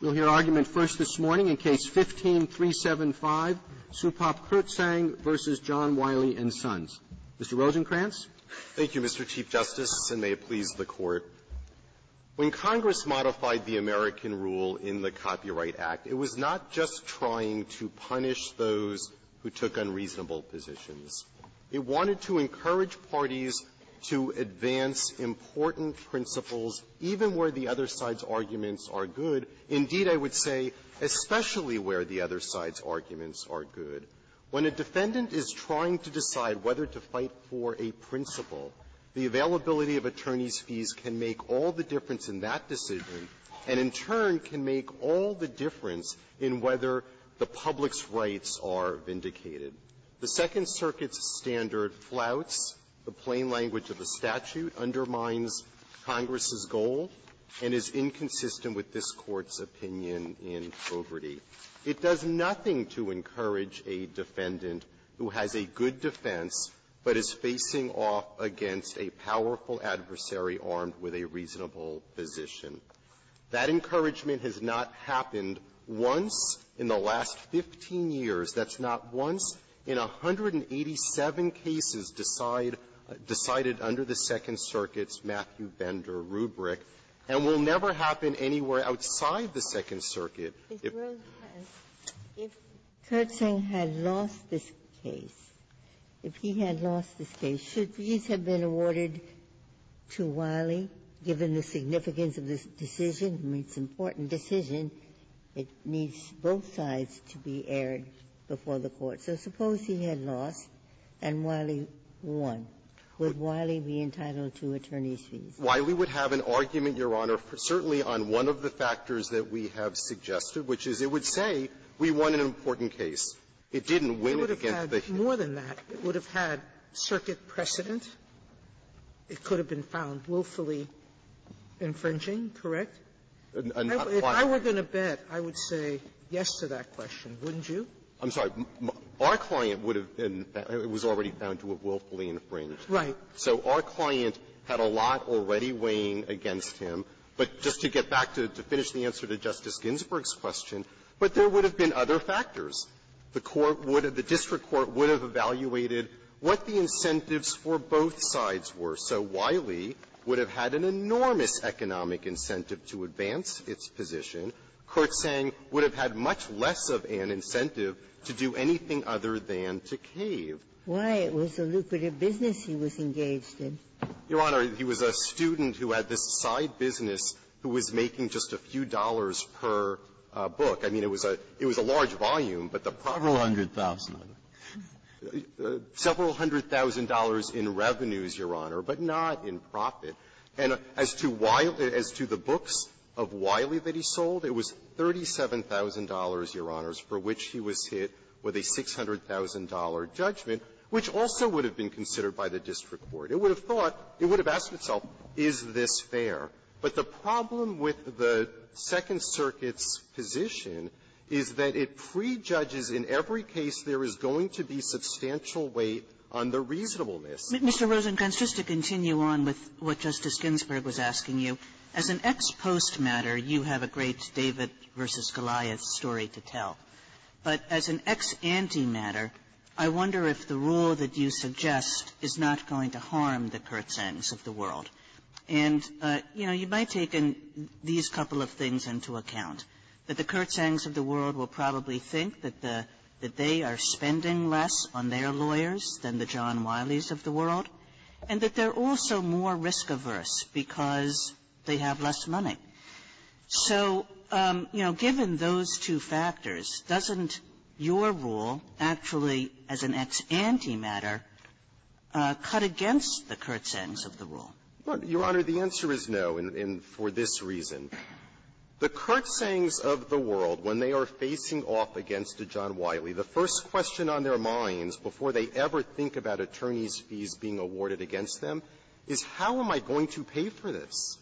We'll hear argument first this morning in Case 15-375, Supap Kirtsaeng v. John Wiley & Sons. Mr. Rosenkranz. Rosenkranz, Thank you, Mr. Chief Justice, and may it please the Court. When Congress modified the American rule in the Copyright Act, it was not just trying to punish those who took unreasonable positions. It wanted to encourage parties to advance important principles, even where the other side's arguments are good. Indeed, I would say, especially where the other side's arguments are good. When a defendant is trying to decide whether to fight for a principle, the availability of attorney's fees can make all the difference in that decision and, in turn, can make all the difference in whether the public's rights are vindicated. The Second Circuit's standard flouts the plain language of the statute, undermines Congress's goal, and is inconsistent with this Court's opinion in Coverty. It does nothing to encourage a defendant who has a good defense but is facing off against a powerful adversary armed with a reasonable position. That encouragement has not happened once in the last 15 years. That's not once in 187 cases decided under the Second Circuit's Matthew Bender rubric, and will never happen anywhere outside the Second Circuit. Ginsburg, if Kurtzing had lost this case, if he had lost this case, should fees have been awarded to Wiley, given the significance of this decision? I mean, it's an important decision. It needs both sides to be aired before the Court. So suppose he had lost and Wiley won. Would Wiley be entitled to attorney's fees? Wiley would have an argument, Your Honor, certainly on one of the factors that we have suggested, which is it would say we won an important case. It didn't win it against the Hill. It would have had more than that. It would have had circuit precedent. It could have been found willfully infringing, correct? If I were going to bet, I would say yes to that question, wouldn't you? I'm sorry. Our client would have been found to have been found to have willfully infringed. Right. So our client had a lot already weighing against him. But just to get back to finish the answer to Justice Ginsburg's question, but there would have been other factors. The court would have been, the district court would have evaluated what the incentives for both sides were. So Wiley would have had an enormous economic incentive to advance its position. Kurtzing would have had much less of an incentive to do anything other than to cave. Why it was a lucrative business he was engaged in. Your Honor, he was a student who had this side business who was making just a few dollars per book. I mean, it was a large volume, but the profit was a large volume. Several hundred thousand. Several hundred thousand dollars in revenues, Your Honor, but not in profit. And as to Wiley, as to the books of Wiley that he sold, it was $37,000, Your Honor, for which he was hit with a $600,000 judgment, which also would have been considered by the district court. It would have thought, it would have asked itself, is this fair? But the problem with the Second Circuit's position is that it prejudges in every case there is going to be substantial weight on the reasonableness. Mr. Rosenkranz, just to continue on with what Justice Ginsburg was asking you, as an ex-postmatter, you have a great David v. Goliath story to tell. But as an ex-antimatter, I wonder if the rule that you suggest is not going to harm the Kurtzengs of the world. And, you know, you might take in these couple of things into account, that the Kurtzengs of the world will probably think that the they are spending less on their lawyers than the John Wileys of the world, and that they're also more risk-averse because they have less money. So, you know, given those two factors, doesn't your rule actually, as an ex-antimatter, cut against the Kurtzengs of the world? Rosenkranz, Your Honor, the answer is no, and for this reason. The Kurtzengs of the world, when they are facing off against a John Wiley, the first question on their minds before they ever think about attorneys' fees being awarded against them is, how am I going to pay for this?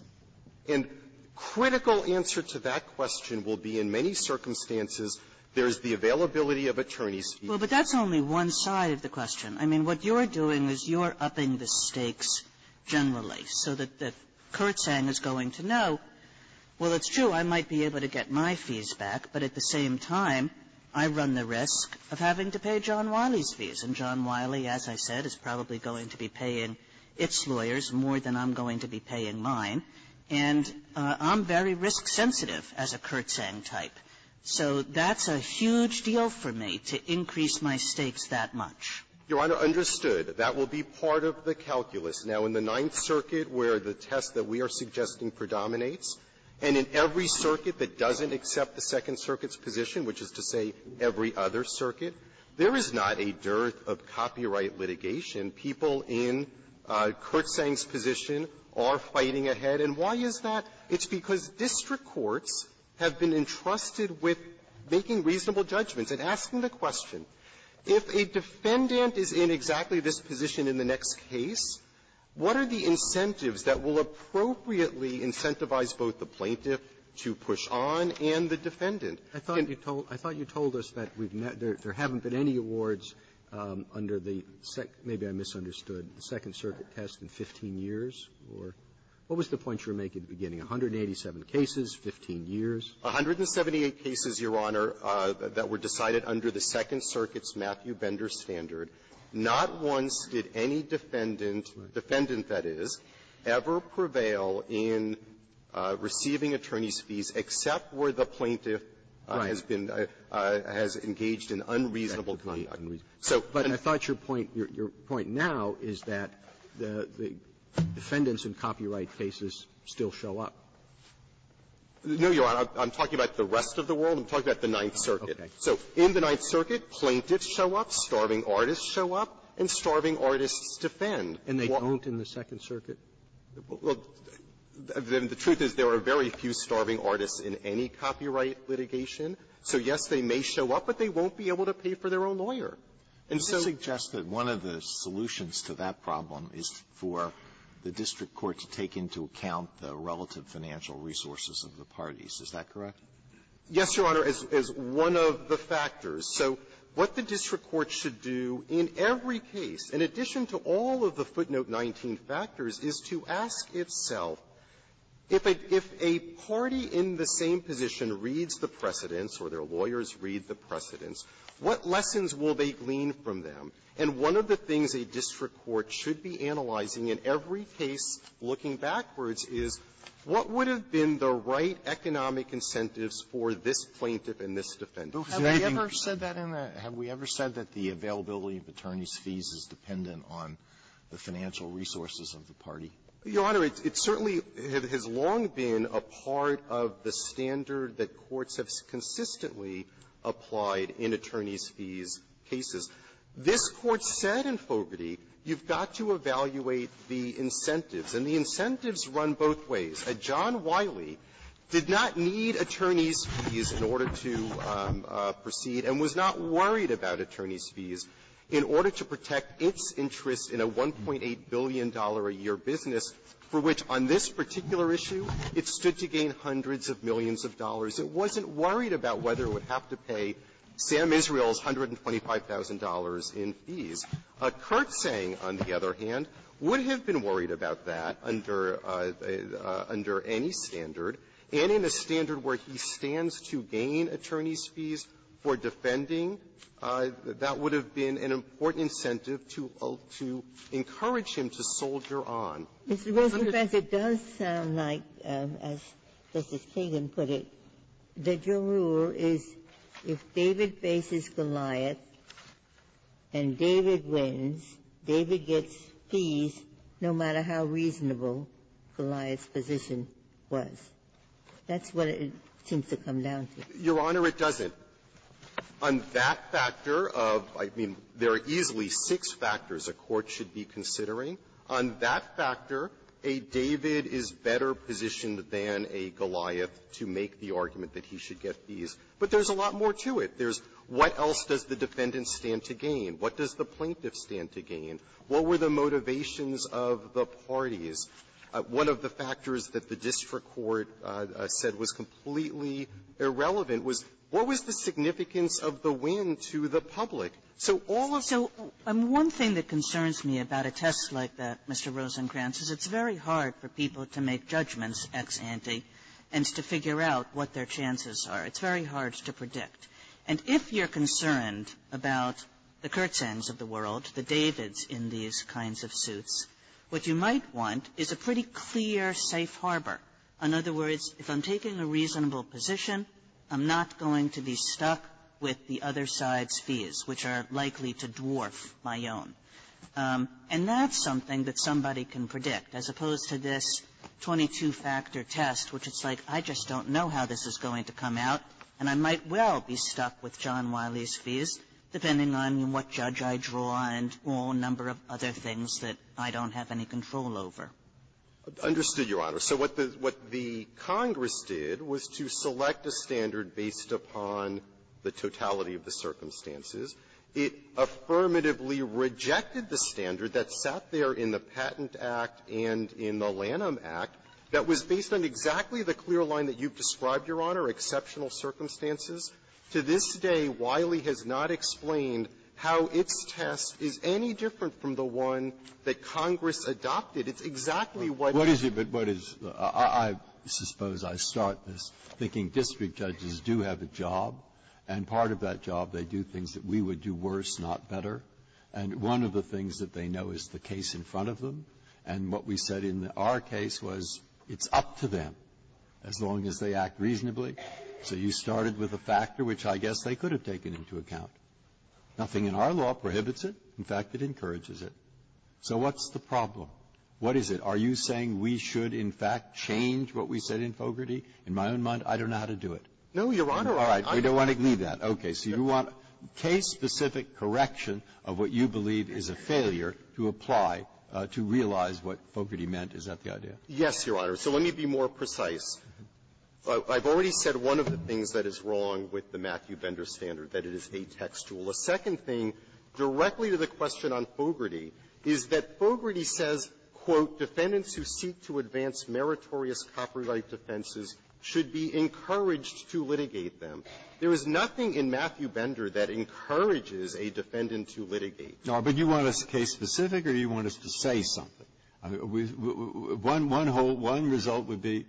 And critical answer to that question will be, in many circumstances, there's the availability of attorneys' fees. Kagan. Well, but that's only one side of the question. I mean, what you're doing is you're upping the stakes generally, so that the Kurtzeng is going to know, well, it's true, I might be able to get my fees back, but at the same time, I run the risk of having to pay John Wiley's fees. And John Wiley, as I said, is probably going to be paying its lawyers more than I'm going to be paying mine, and I'm very risk-sensitive as a Kurtzeng type. So that's a huge deal for me to increase my stakes that much. Rosenkranz, Your Honor, understood. That will be part of the calculus. Now, in the Ninth Circuit, where the test that we are suggesting predominates, and in every circuit that doesn't accept the Second Circuit's position, which is to say every other circuit, there is not a dearth of copyright litigation. People in Kurtzeng's position are fighting ahead. And why is that? It's because district courts have been entrusted with making reasonable judgments and asking the question, if a defendant is in exactly this position in the next case, what are the incentives that will appropriately incentivize both the plaintiff to push on and the defendant? Robertson, I thought you told us that there haven't been any awards under the Second Circuit, maybe I misunderstood, the Second Circuit test in 15 years, or what was the point you were making at the beginning, 187 cases, 15 years? Rosenkranz, 178 cases, Your Honor, that were decided under the Second Circuit's Matthew Bender standard. Not once did any defendant, defendant, that is, ever prevail in receiving attorney's fees except where the plaintiff has been engaged in unreasonable Robertson, but I thought your point, your point now is that the defendants in copyright cases still show up. Rosenkranz, no, Your Honor. I'm talking about the rest of the world. I'm talking about the Ninth Circuit. So in the Ninth Circuit, plaintiffs show up, starving artists show up, and starving artists defend. Robertson, and they don't in the Second Circuit? Rosenkranz, well, then the truth is there are very few starving artists in any copyright litigation. So, yes, they may show up, but they won't be able to pay for their own lawyer. Alitoso, I would suggest that one of the solutions to that problem is for the district court to take into account the relative financial resources of the parties. Is that correct? Rosenkranz, yes, Your Honor, as one of the factors. So what the district court should do in every case, in addition to all of the footnote 19 factors, is to ask itself, if a party in the same position reads the precedents or their lawyers read the precedents, what lessons will they glean from them? And one of the things a district court should be analyzing in every case, looking backwards, is what would have been the right economic incentives for this plaintiff and this defendant? Alitoso, have we ever said that in a – have we ever said that the availability of attorneys' fees is dependent on the financial resources of the party? Rosenkranz, Your Honor, it certainly has long been a part of the standard that courts have consistently applied in attorneys' fees cases. This Court said in Fogarty, you've got to evaluate the incentives, and the incentives run both ways. John Wiley did not need attorneys' fees in order to proceed and was not worried about attorneys' fees in order to protect its interests in a $1.8 billion-a-year business for which, on this particular issue, it stood to gain hundreds of millions of dollars. It wasn't worried about whether it would have to pay Sam Israel's $125,000 in fees. Kurtzang, on the other hand, would have been worried about that under – under any standard, and in a standard where he stands to gain attorneys' fees for defending, that would have been an important incentive to – to encourage him to soldier on. Ginsburg, it does sound like, as Justice Kagan put it, that your rule is if David faces Goliath and David wins, David gets fees no matter how reasonable Goliath's position was. That's what it seems to come down to. Your Honor, it doesn't. On that factor of – I mean, there are easily six factors a court should be considering. On that factor, a David is better positioned than a Goliath to make the argument that he should get fees. But there's a lot more to it. There's what else does the defendant stand to gain? What does the plaintiff stand to gain? What were the motivations of the parties? One of the factors that the district court said was completely irrelevant was, what was the significance of the win to the public? So all of the So one thing that concerns me about a test like that, Mr. Rosenkranz, is it's very hard for people to make judgments ex ante and to figure out what their chances are. It's very hard to predict. And if you're concerned about the Kurtzangs of the world, the Davids in these kinds of suits, what you might want is a pretty clear safe harbor. In other words, if I'm taking a reasonable position, I'm not going to be stuck with the other side's fees, which are likely to dwarf my own. And that's something that somebody can predict, as opposed to this 22-factor test, which is like, I just don't know how this is going to come out, and I might well be stuck with John Wiley's draw and all number of other things that I don't have any control over. Rosenkranz, I understand, Your Honor. So what the Congress did was to select a standard based upon the totality of the circumstances. It affirmatively rejected the standard that sat there in the Patent Act and in the Lanham Act that was based on exactly the clear line that you've Now, I don't know if this test is any different from the one that Congress adopted. It's exactly what you're going to do. Breyer, what is it? I suppose I start this thinking district judges do have a job. And part of that job, they do things that we would do worse, not better. And one of the things that they know is the case in front of them. And what we said in our case was it's up to them as long as they act reasonably. So you started with a factor which I guess they could have taken into account. Nothing in our law prohibits it. In fact, it encourages it. So what's the problem? What is it? Are you saying we should, in fact, change what we said in Fogarty? In my own mind, I don't know how to do it. Rosenkranz, no, Your Honor. Breyer, we don't want to do that. Okay. So you want case-specific correction of what you believe is a failure to apply to realize what Fogarty meant. Is that the idea? Rosenkranz, yes, Your Honor. So let me be more precise. I've already said one of the things that is wrong with the Matthew Bender standard, that it is a textualist. The second thing, directly to the question on Fogarty, is that Fogarty says, quote, Defendants who seek to advance meritorious copyright defenses should be encouraged to litigate them. There is nothing in Matthew Bender that encourages a defendant to litigate. Breyer, but you want us case-specific or you want us to say something? One whole result would be,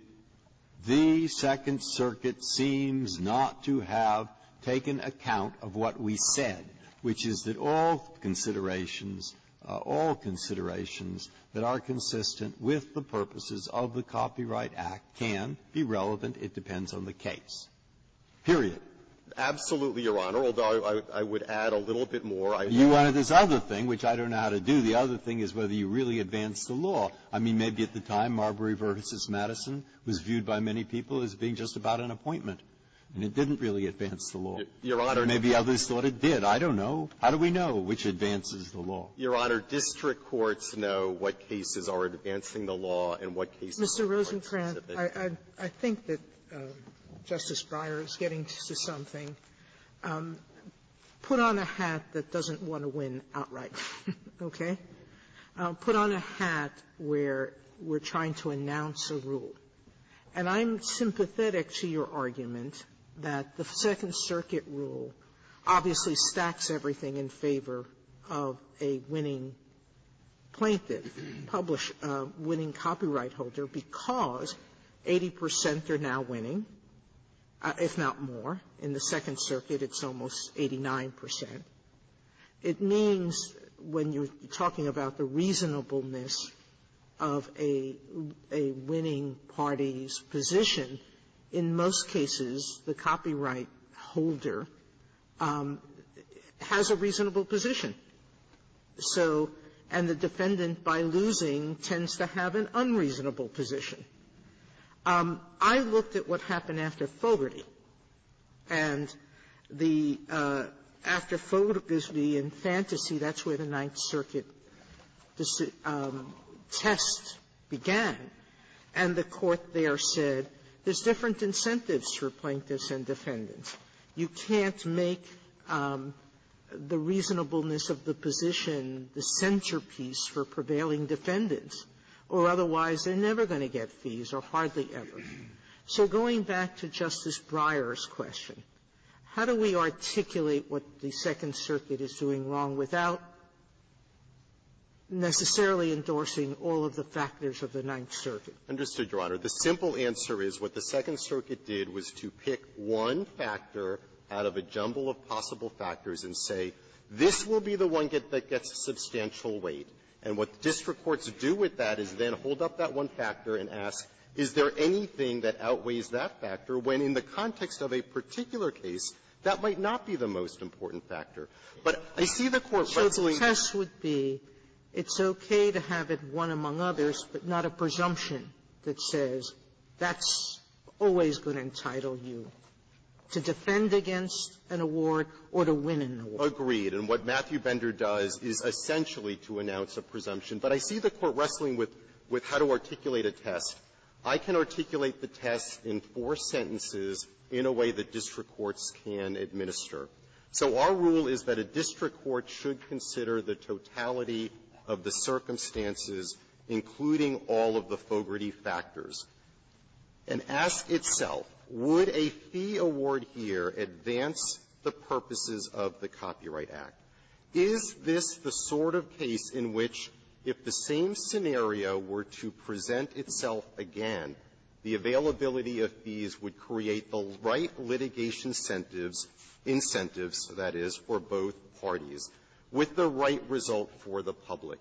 the Second Circuit seems not to have taken account of what we said, which is that all considerations, all considerations that are consistent with the purposes of the Copyright Act can be relevant. It depends on the case, period. Absolutely, Your Honor, although I would add a little bit more. You wanted this other thing, which I don't know how to do. The other thing is whether you really advanced the law. I mean, maybe at the time, Marbury v. Madison was viewed by many people as being just about an appointment, and it didn't really advance the law. Your Honor — Maybe others thought it did. I don't know. How do we know which advances the law? Your Honor, district courts know what cases are advancing the law and what cases are not. Sotomayor, I think that Justice Breyer is getting to something. Put on a hat that doesn't want to win outright, okay? Put on a hat where you're trying to announce a rule. And I'm sympathetic to your argument that the Second Circuit rule obviously stacks everything in favor of a winning plaintiff, publish — winning copyright holder, because 80 percent are now winning, if not more. In the Second Circuit, it's almost 89 percent. It means, when you're talking about the reasonableness of a winning party's position, in most cases, the copyright holder has a reasonable position. So — and the defendant, by losing, tends to have an unreasonable position. I looked at what happened after Fogarty. And the — after Fogarty and Fantasy, that's where the Ninth Circuit test began. And the Court there said, there's different incentives for plaintiffs and defendants. You can't make the reasonableness of the position the centerpiece for prevailing defendants, or otherwise, they're never going to get fees, or hardly ever. So going back to Justice Breyer's question, how do we articulate what the Second Circuit is doing wrong without necessarily endorsing all of the factors of the Ninth Circuit? Rosenkranz. Understood, Your Honor. The simple answer is, what the Second Circuit did was to pick one factor out of a jumble of possible factors and say, this will be the one that gets a substantial weight. And what district courts do with that is then hold up that one factor and ask, is there anything that outweighs that factor, when in the context of a particular case, that might not be the most important factor. But I see the Court wrestling with the question. Sotomayor, so the test would be, it's okay to have it one among others, but not a presumption that says that's always going to entitle you to defend against an award or to win an award. Agreed. And what Matthew Bender does is essentially to announce a presumption. But I see the Court wrestling with how to articulate a test. I can articulate the test in four sentences in a way that district courts can administer. So our rule is that a district court should consider the totality of the circumstances, including all of the Fogarty factors, and ask itself, would a fee award here advance the purposes of the Copyright Act? Is this the sort of case in which, if the same scenario were to present itself again, the availability of fees would create the right litigation incentives, incentives, that is, for both parties, with the right result for the public.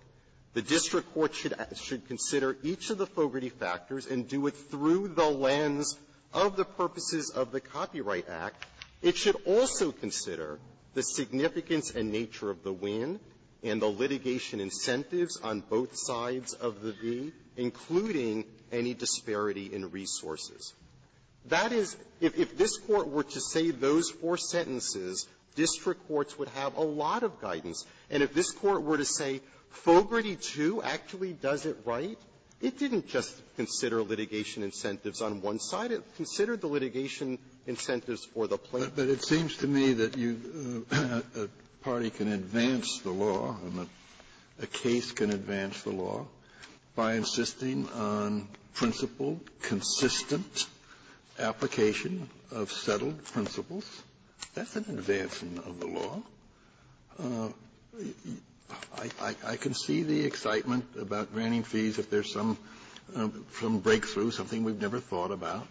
The district court should consider each of the Fogarty factors and do it through the lens of the purposes of the Copyright Act. It should also consider the significance and nature of the win and the litigation incentives on both sides of the fee, including any disparity in resources. That is, if this Court were to say those four sentences, district courts would have a lot of guidance. And if this Court were to say Fogarty 2 actually does it right, it didn't just consider litigation incentives on one side. It considered the litigation incentives for the plaintiff. Kennedy. But it seems to me that a party can advance the law, and a case can advance the law by insisting on principled, consistent application of settled principles. That's an advancement of the law. I can see the excitement about granting fees if there's some breakthrough, something we've never thought about.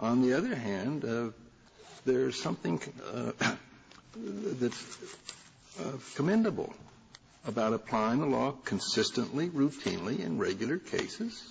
On the other hand, there's something that's commendable about applying the law consistently, routinely, in regular cases.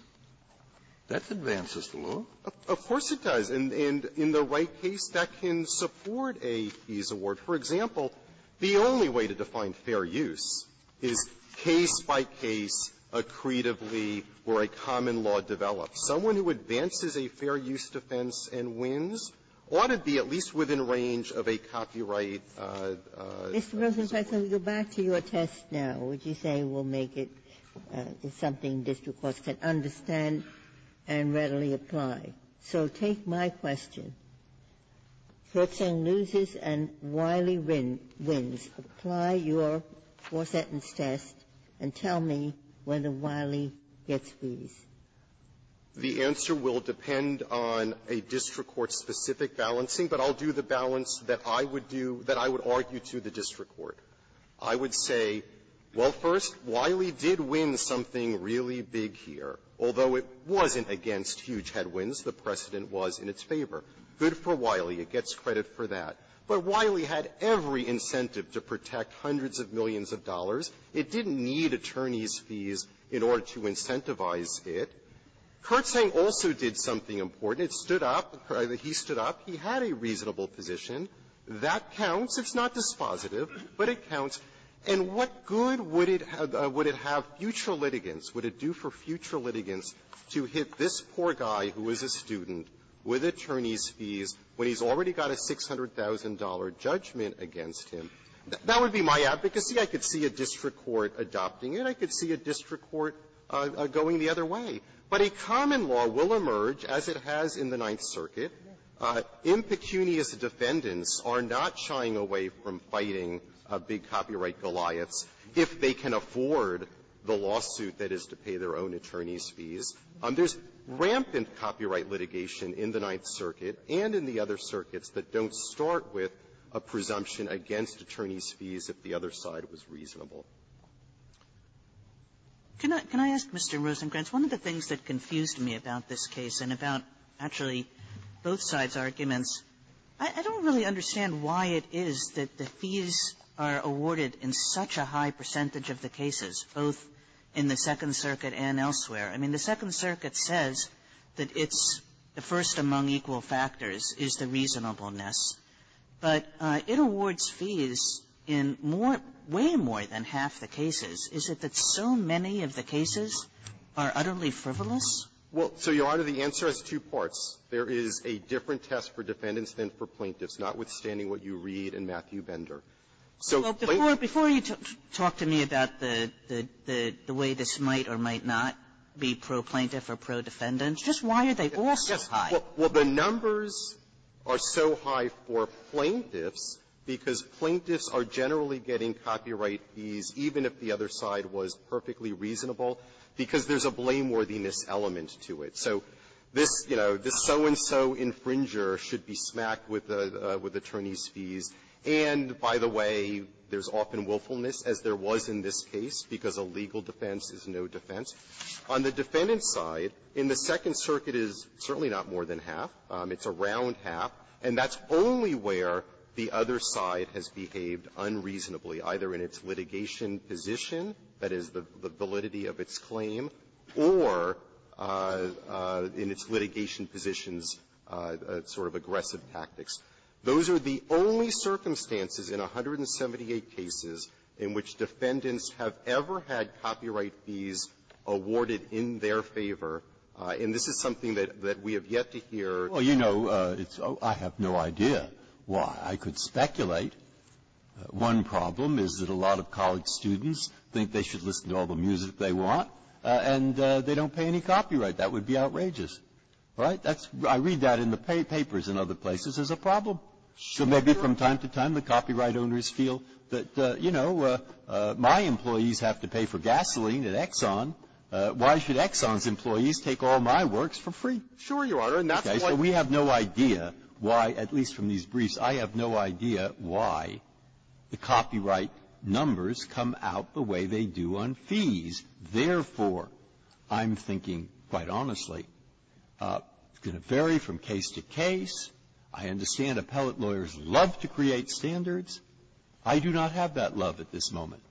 That advances the law. Of course it does. And in the right case, that can support a fees award. For example, the only way to define fair use is case by case, accretively, where a common law develops. Someone who advances a fair use defense and wins ought to be at least within range of a copyright law. Ginsburg. Mr. Rosenfeld, let me go back to your test now. Would you say we'll make it something district courts can understand and readily apply? So take my question. Kurtzeng loses and Wiley wins. Apply your four-sentence test and tell me whether Wiley gets fees. Rosenfeld, the answer will depend on a district court-specific balancing. But I'll do the balance that I would do, that I would argue to the district court. I would say, well, first, Wiley did win something really big here, although it wasn't against huge headwinds. The precedent was in its favor. Good for Wiley. It gets credit for that. But Wiley had every incentive to protect hundreds of millions of dollars. It didn't need attorneys' fees in order to incentivize it. Kurtzeng also did something important. It stood up. He stood up. He had a reasonable position. That counts. It's not dispositive, but it counts. And what good would it have future litigants, would it do for future litigants to hit this poor guy who is a student with attorneys' fees when he's already got a $600,000 judgment against him? That would be my advocacy. I could see a district court adopting it. I could see a district court going the other way. But a common law will emerge, as it has in the Ninth Circuit. Impecunious defendants are not shying away from fighting a big copyright goliaths if they can afford the lawsuit that is to pay their own attorneys' fees. There's rampant copyright litigation in the Ninth Circuit and in the other circuits that don't start with a presumption against attorneys' fees if the other side was reasonable. Kagan, can I ask Mr. Rosenkranz, one of the things that confused me about this case and about, actually, both sides' arguments, I don't really understand why it is that the fees are awarded in such a high percentage of the cases, both in the Second Circuit and elsewhere. I mean, the Second Circuit says that it's the first among equal factors is the reasonableness. But it awards fees in more way more than half the cases. Is it that so many of the cases are utterly frivolous? Rosenkranz, well, so, Your Honor, the answer has two parts. There is a different test for defendants than for plaintiffs, notwithstanding what you read in Matthew Bender. So plaintiffs are so high for plaintiffs because plaintiffs are generally getting copyright fees, even if the other side was perfectly reasonable, because there's a blameworthiness element. So this, you know, this so-and-so infringer should be smacked with attorneys' fees. And, by the way, there's often willfulness, as there was in this case, because a legal defense is no defense. On the defendant's side, in the Second Circuit, it's certainly not more than half. It's around half. And that's only where the other side has behaved unreasonably, either in its litigation position, that is, the validity of its claim, or in its litigation positions, sort of aggressive tactics. Those are the only circumstances in 178 cases in which defendants have ever had copyright fees awarded in their favor. And this is something that we have yet to hear. Breyer, you know, it's oh, I have no idea why. I could speculate. One problem is that a lot of college students think they should listen to all the music they want, and they don't pay any copyright. That would be outrageous. Right? That's why I read that in the papers in other places as a problem. So maybe from time to time, the copyright owners feel that, you know, my employees have to pay for gasoline at Exxon. Why should Exxon's employees take all my works for free? Okay. So we have no idea why, at least from these briefs, I have no idea why the Therefore, I'm thinking, quite honestly, it's going to vary from case to case. I understand appellate lawyers love to create standards. I do not have that love at this moment.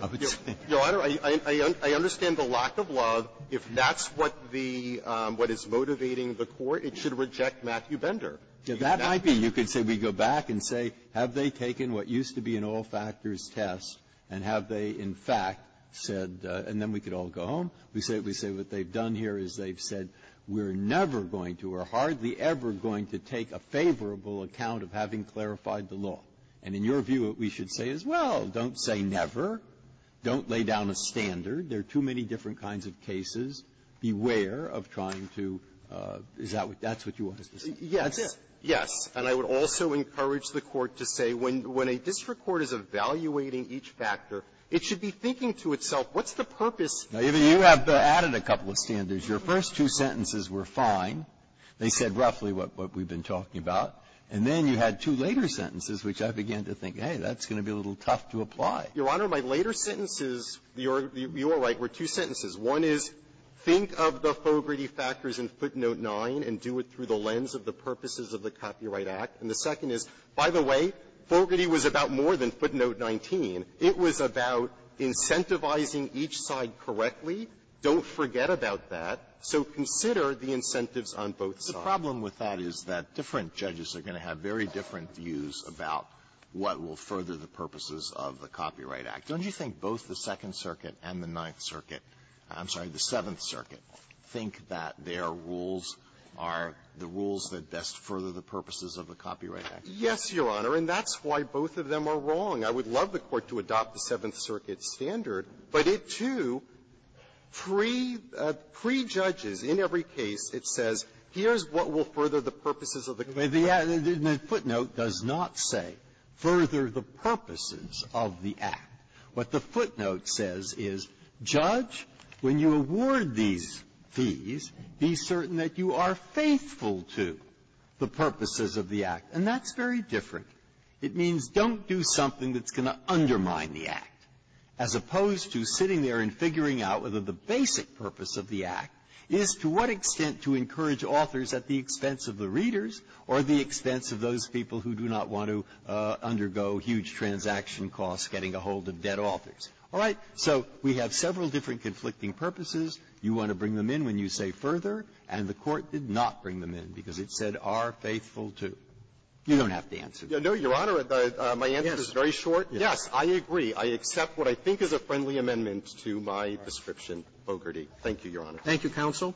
I would say that. I understand the lack of love. If that's what the what is motivating the Court, it should reject Matthew Bender. That might be. You could say we go back and say, have they taken what used to be an all-factors test, and have they, in fact, said, and then we could all go home. We say what they've done here is they've said, we're never going to or hardly ever going to take a favorable account of having clarified the law. And in your view, we should say as well, don't say never. Don't lay down a standard. There are too many different kinds of cases. Beware of trying to do that. That's what you want us to say. Yes. Yes. And I would also encourage the Court to say when a district court is evaluating each factor, it should be thinking to itself, what's the purpose? Now, you have added a couple of standards. Your first two sentences were fine. They said roughly what we've been talking about. And then you had two later sentences, which I began to think, hey, that's going to be a little tough to apply. Your Honor, my later sentences, you're right, were two sentences. One is, think of the Fogarty factors in footnote 9 and do it through the lens of the Copyright Act. And the second is, by the way, Fogarty was about more than footnote 19. It was about incentivizing each side correctly. Don't forget about that. So consider the incentives on both sides. Alitoso, the problem with that is that different judges are going to have very different views about what will further the purposes of the Copyright Act. Don't you think both the Second Circuit and the Ninth Circuit, I'm sorry, the Seventh Circuit rules are the rules that best further the purposes of a Copyright Act? Yes, Your Honor. And that's why both of them are wrong. I would love the Court to adopt the Seventh Circuit standard, but it, too, prejudges in every case, it says, here's what will further the purposes of the Copyright Act. Breyer, the footnote does not say, further the purposes of the Act. What the footnote says is, Judge, when you award these fees, be certain that you are faithful to the purposes of the Act. And that's very different. It means don't do something that's going to undermine the Act, as opposed to sitting there and figuring out whether the basic purpose of the Act is to what extent to encourage authors at the expense of the readers or the expense of those people who do not want to undergo huge transaction costs getting ahold of dead authors. All right. So we have several different conflicting purposes. You want to bring them in when you say further, and the Court did not bring them in because it said, are faithful to. You don't have to answer that. No, Your Honor, my answer is very short. Yes, I agree. I accept what I think is a friendly amendment to my description, Bogerty. Thank you, Your Honor. Thank you, counsel.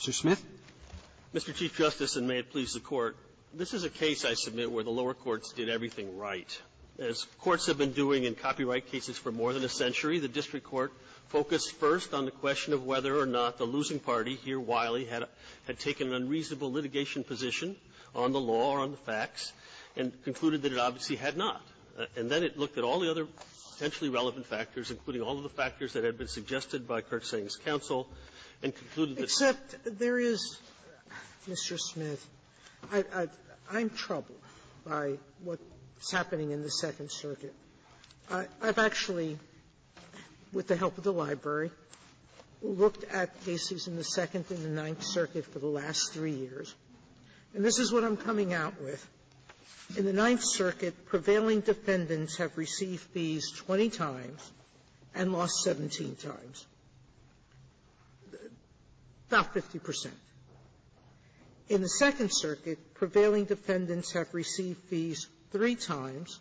Mr. Smith. Mr. Chief Justice, and may it please the Court, this is a case, I submit, where the lower courts did everything right. As courts have been doing in copyright cases for more than a century, the district court focused first on the question of whether or not the losing party here, Wiley, had taken an unreasonable litigation position on the law or on the facts and concluded that it obviously had not. And then it looked at all the other potentially relevant factors, including all of the factors that had been suggested by Kurtzang's counsel, and concluded that they were not. Except there is, Mr. Smith, I'm troubled by what's happening in the Second Circuit. I've actually, with the help of the library, looked at cases in the Second and the Ninth Circuit for the last three years, and this is what I'm coming out with. In the Ninth Circuit, prevailing defendants have received fees 20 times and lost 17 times, about 50 percent. In the Second Circuit, prevailing defendants have received fees three times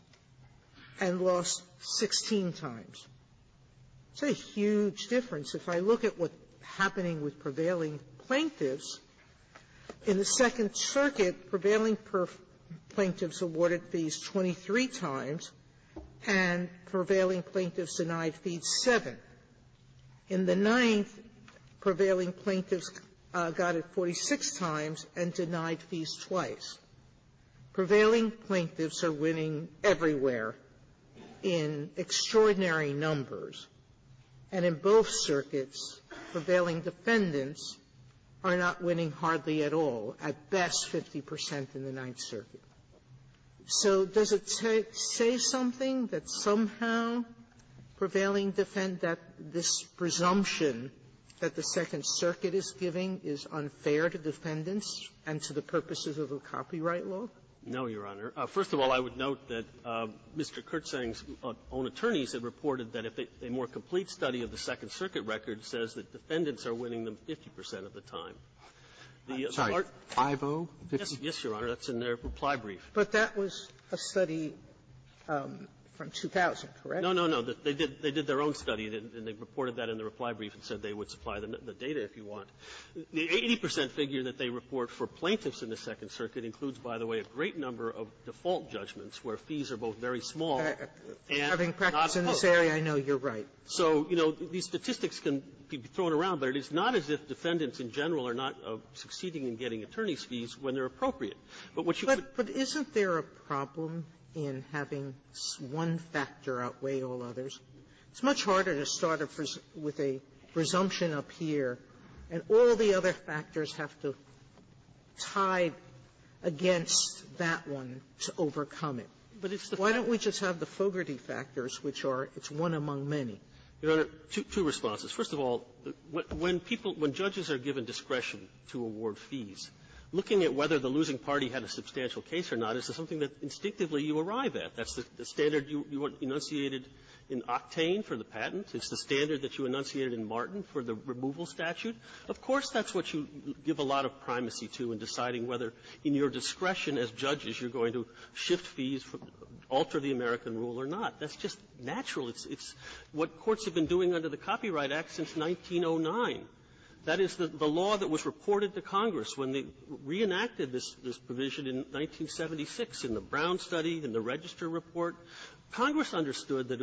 and lost 16 times. It's a huge difference. If I look at what's happening with prevailing plaintiffs, in the Second Circuit, prevailing plaintiffs awarded fees 23 times, and prevailing plaintiffs denied fees seven. In the Ninth, prevailing plaintiffs got it 46 times and denied fees twice. Prevailing plaintiffs are winning everywhere in extraordinary numbers, and in both circuits, prevailing defendants are not winning hardly at all, at best 50 percent. 50 percent in the Ninth Circuit. So does it say something that somehow prevailing defendant, this presumption that the Second Circuit is giving is unfair to defendants and to the purposes of the copyright law? No, Your Honor. First of all, I would note that Mr. Kurtzang's own attorneys had reported that if a more complete study of the Second Circuit record says that defendants are winning them 50 percent of the time. I'm sorry, 50? Yes, Your Honor. That's in their reply brief. But that was a study from 2000, correct? No, no, no. They did their own study, and they reported that in their reply brief and said they would supply the data if you want. The 80 percent figure that they report for plaintiffs in the Second Circuit includes, by the way, a great number of default judgments where fees are both very small and not opposed. Having practice in this area, I know you're right. So, you know, these statistics can be thrown around, but it is not as if defendants in general are not succeeding in getting attorney's fees when they're appropriate. But what you could do to be fair is to say, well, you know, we have a problem in having one factor outweigh all others. It's much harder to start with a presumption up here, and all the other factors have to tie against that one to overcome it. Why don't we just have the Fogarty factors, which are it's one among many? Martinez, your Honor, two responses. First of all, when people – when judges are given discretion to award fees, looking at whether the losing party had a substantial case or not is something that instinctively you arrive at. That's the standard you enunciated in Octane for the patent. It's the standard that you enunciated in Martin for the removal statute. Of course, that's what you give a lot of primacy to in deciding whether in your discretion as judges you're going to shift fees, alter the American rule or not. That's just natural. It's what courts have been doing under the Copyright Act since 1909. That is the law that was reported to Congress when they reenacted this provision in 1976 in the Brown study, in the Register report. Congress understood that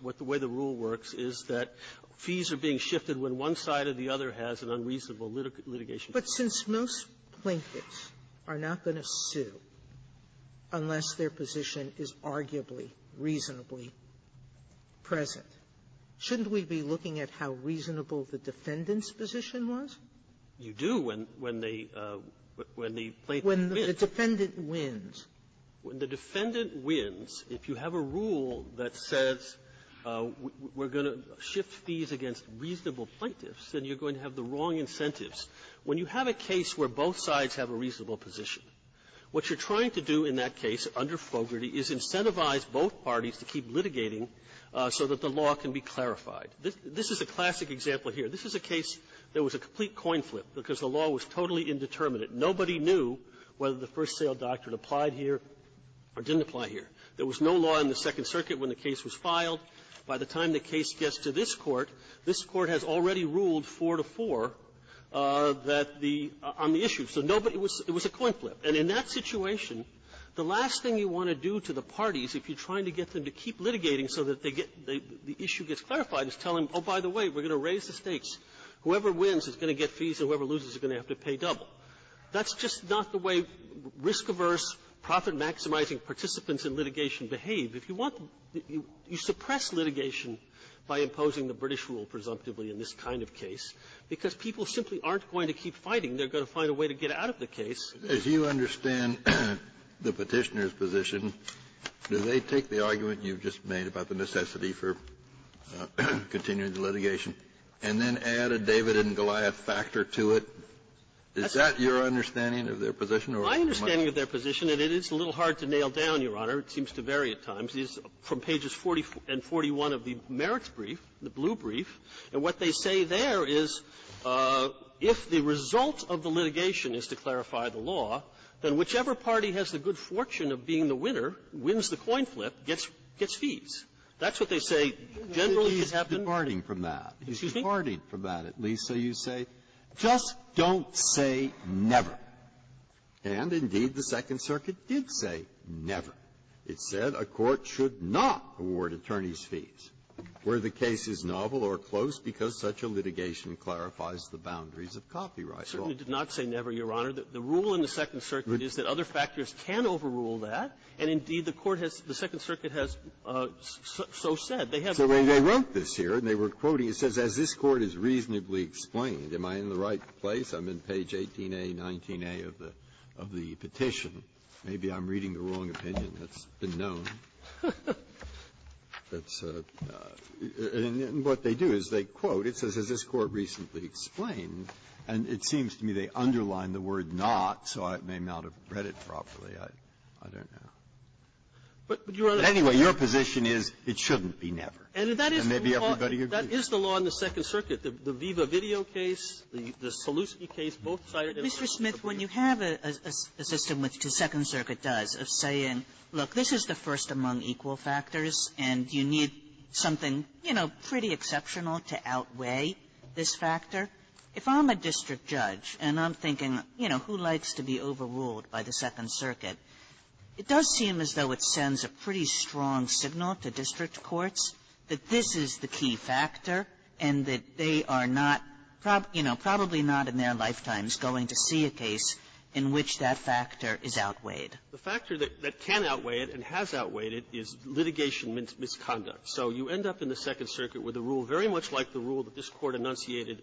what the way the rule works is that fees are being shifted when one side or the other has an unreasonable litigation. Sotomayor, but since most plinkets are not going to sue unless their position is arguably reasonably present, shouldn't we be looking at how reasonable the defendant's position was? You do when they – when the plaintiff wins. When the defendant wins. When the defendant wins, if you have a rule that says we're going to shift fees against reasonable plaintiffs, then you're going to have the wrong incentives. When you have a case where both sides have a reasonable position, what you're trying to do in that case under Fogarty is incentivize both parties to keep litigating so that the law can be clarified. This is a classic example here. This is a case that was a complete coin flip because the law was totally indeterminate. Nobody knew whether the first-sale doctrine applied here or didn't apply here. There was no law in the Second Circuit when the case was filed. By the time the case gets to this Court, this Court has already ruled 4-to-4 that the – on the issue. So nobody was – it was a coin flip. And in that situation, the last thing you want to do to the parties, if you're trying to get them to keep litigating so that they get – the issue gets clarified, is tell them, oh, by the way, we're going to raise the stakes. Whoever wins is going to get fees, and whoever loses is going to have to pay double. That's just not the way risk-averse, profit-maximizing participants in litigation behave. If you want – you suppress litigation by imposing the British rule, presumptively, in this kind of case, because people simply aren't going to keep fighting. They're going to find a way to get out of the case. Kennedy, as you understand the Petitioner's position, do they take the argument you've just made about the necessity for continuing the litigation and then add a David and Goliath factor to it? Is that your understanding of their position or my – My understanding of their position, and it is a little hard to nail down, Your Honor, it seems to vary at times, is from pages 40 and 41 of the merits brief, the blue brief. And what they say there is if the result of the litigation is to clarify the law, then whichever party has the good fortune of being the winner, wins the coin flip, gets fees. That's what they say generally has happened. Breyer, he's departing from that. He's departing from that, at least. So you say, just don't say never. And, indeed, the Second Circuit did say never. It said a court should not award attorneys fees. Were the cases novel or close because such a litigation clarifies the boundaries of copyright law? I certainly did not say never, Your Honor. The rule in the Second Circuit is that other factors can overrule that. And, indeed, the court has – the Second Circuit has so said. They have a rule. So they wrote this here, and they were quoting. It says, as this Court has reasonably explained. Am I in the right place? I'm in page 18a, 19a of the – of the petition. Maybe I'm reading the wrong opinion. That's been known. That's a – and what they do is they quote. It says, as this Court recently explained. And it seems to me they underline the word not, so I may not have read it properly. I don't know. But, Your Honor – But, anyway, your position is it shouldn't be never. And maybe everybody agrees. That is the law in the Second Circuit. The Viva Video case, the Selewski case, both cited in the Second Circuit. Mr. Smith, when you have a system, which the Second Circuit does, of saying, look, this is the first among equal factors, and you need something, you know, pretty exceptional to outweigh this factor, if I'm a district judge and I'm thinking, you know, who likes to be overruled by the Second Circuit, it does seem as though it sends a pretty strong signal to district courts that this is the key factor and that they are not, you know, probably not in their lifetimes going to see a case in which that factor is outweighed. The factor that can outweigh it and has outweighed it is litigation misconduct. So you end up in the Second Circuit with a rule very much like the rule that this Court enunciated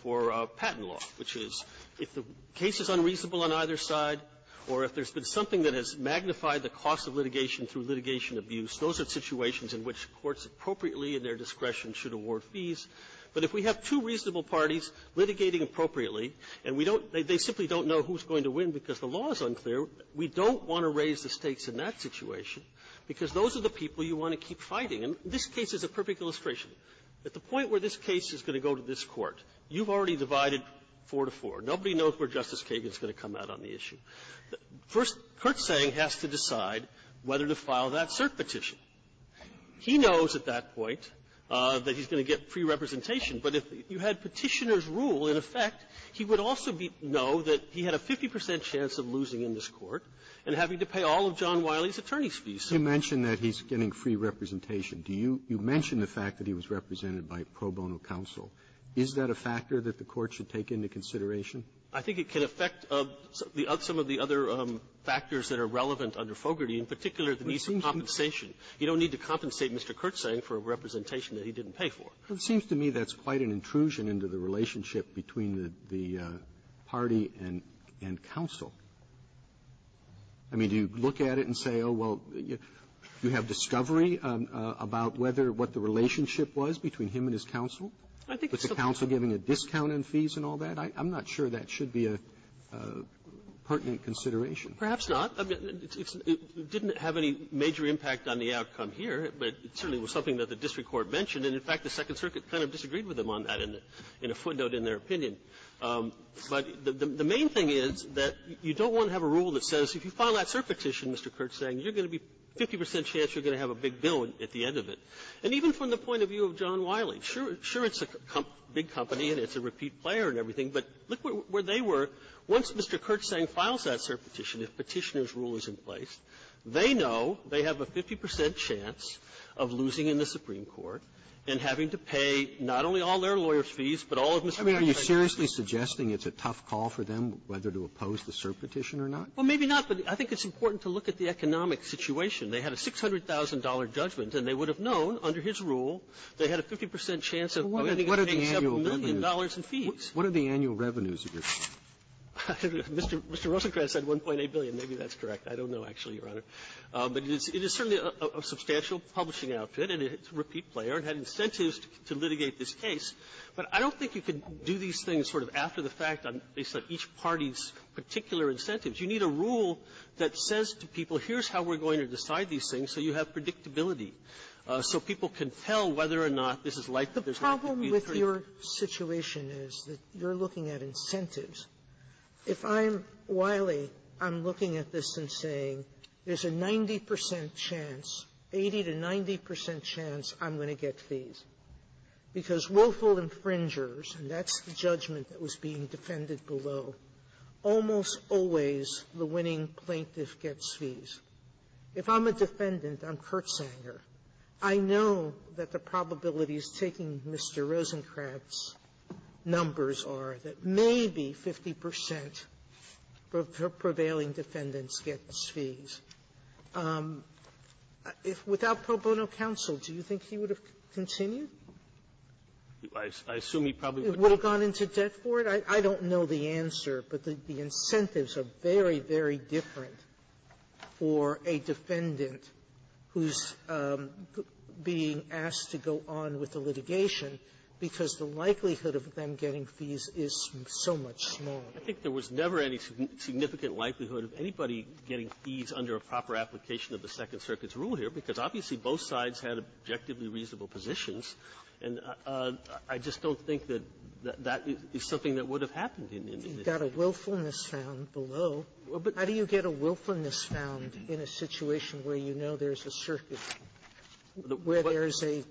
for patent law, which is, if the case is unreasonable on either side or if there's been something that has magnified the cost of litigation through litigation abuse, those are situations in which courts appropriately and their discretion should award fees. But if we have two reasonable parties litigating appropriately, and we don't – they simply don't know who's going to win because the law is unclear, we don't want to raise the stakes in that situation because those are the people you want to keep fighting. And this case is a perfect illustration. At the point where this case is going to go to this Court, you've already divided four to four. Nobody knows where Justice Kagan is going to come out on the issue. First, Kurtzang has to decide whether to file that cert petition. He knows at that point that he's going to get free representation. But if you had Petitioner's rule in effect, he would also be – know that he had a 50 percent chance of losing in this Court and having to pay all of John Wiley's attorney's fees. Robertson, you mentioned that he's getting free representation. Do you – you mentioned the fact that he was represented by pro bono counsel. Is that a factor that the Court should take into consideration? I think it can affect some of the other factors that are relevant under Fogarty, in particular, the need for compensation. You don't need to compensate Mr. Kurtzang for a representation that he didn't pay for. Well, it seems to me that's quite an intrusion into the relationship between the – the party and – and counsel. I mean, do you look at it and say, oh, well, you have discovery about whether – what the relationship was between him and his counsel, with the counsel giving a discount in fees and all that? I'm not sure that should be a pertinent consideration. Perhaps not. I mean, it didn't have any major impact on the outcome here, but it certainly was something that the district court mentioned. And, in fact, the Second Circuit kind of disagreed with him on that in a footnote, in their opinion. But the main thing is that you don't want to have a rule that says, if you file that cert petition, Mr. Kurtzang, you're going to be 50 percent chance you're going to have a big bill at the end of it. And even from the point of view of John Wiley, sure – sure, it's a big company and it's a repeat player and everything, but look where they were. Once Mr. Kurtzang files that cert petition, if Petitioner's rule is in place, they know they have a 50 percent chance of losing in the Supreme Court and having to pay not only all their lawyers' fees, but all of Mr. Rosenkranz's fees. Roberts. Are you seriously suggesting it's a tough call for them whether to oppose the cert petition or not? Well, maybe not. But I think it's important to look at the economic situation. They had a $600,000 judgment, and they would have known, under his rule, they had a 50 percent chance of winning and paying several million dollars in fees. What are the annual revenues of your company? Mr. Rosenkranz said $1.8 billion. Maybe that's correct. I don't know, actually, Your Honor. But it is certainly a substantial publishing outfit, and it's a repeat player. It had incentives to litigate this case. But I don't think you can do these things sort of after the fact, based on each party's particular incentives. You need a rule that says to people, here's how we're going to decide these things, so you have predictability, so people can tell whether or not this is likely to be the case. Sotomayor, the problem with your situation is that you're looking at incentives. If I'm Wiley, I'm looking at this and saying, there's a 90 percent chance, 80 to 90 percent chance I'm going to get fees, because willful infringers, and that's the judgment that was being defended below, almost always the winning plaintiff gets fees. If I'm a defendant, I'm Kurtzanger. I know that the probabilities taking Mr. Rosenkranz's numbers are that maybe 50 percent of the prevailing defendants gets fees. If without pro bono counsel, do you think he would have continued? I assume he probably would have gone into debt for it. I don't know the answer, but the incentives are very, very different for a defendant who's being asked to go on with the litigation because the likelihood of them getting I think there was never any significant likelihood of anybody getting fees under a proper application of the Second Circuit's rule here, because obviously both sides had objectively reasonable positions, and I just don't think that that is something that would have happened in this case. Sotomayor, you've got a willfulness found below. How do you get a willfulness found in a situation where you know there's a circuit, where there's a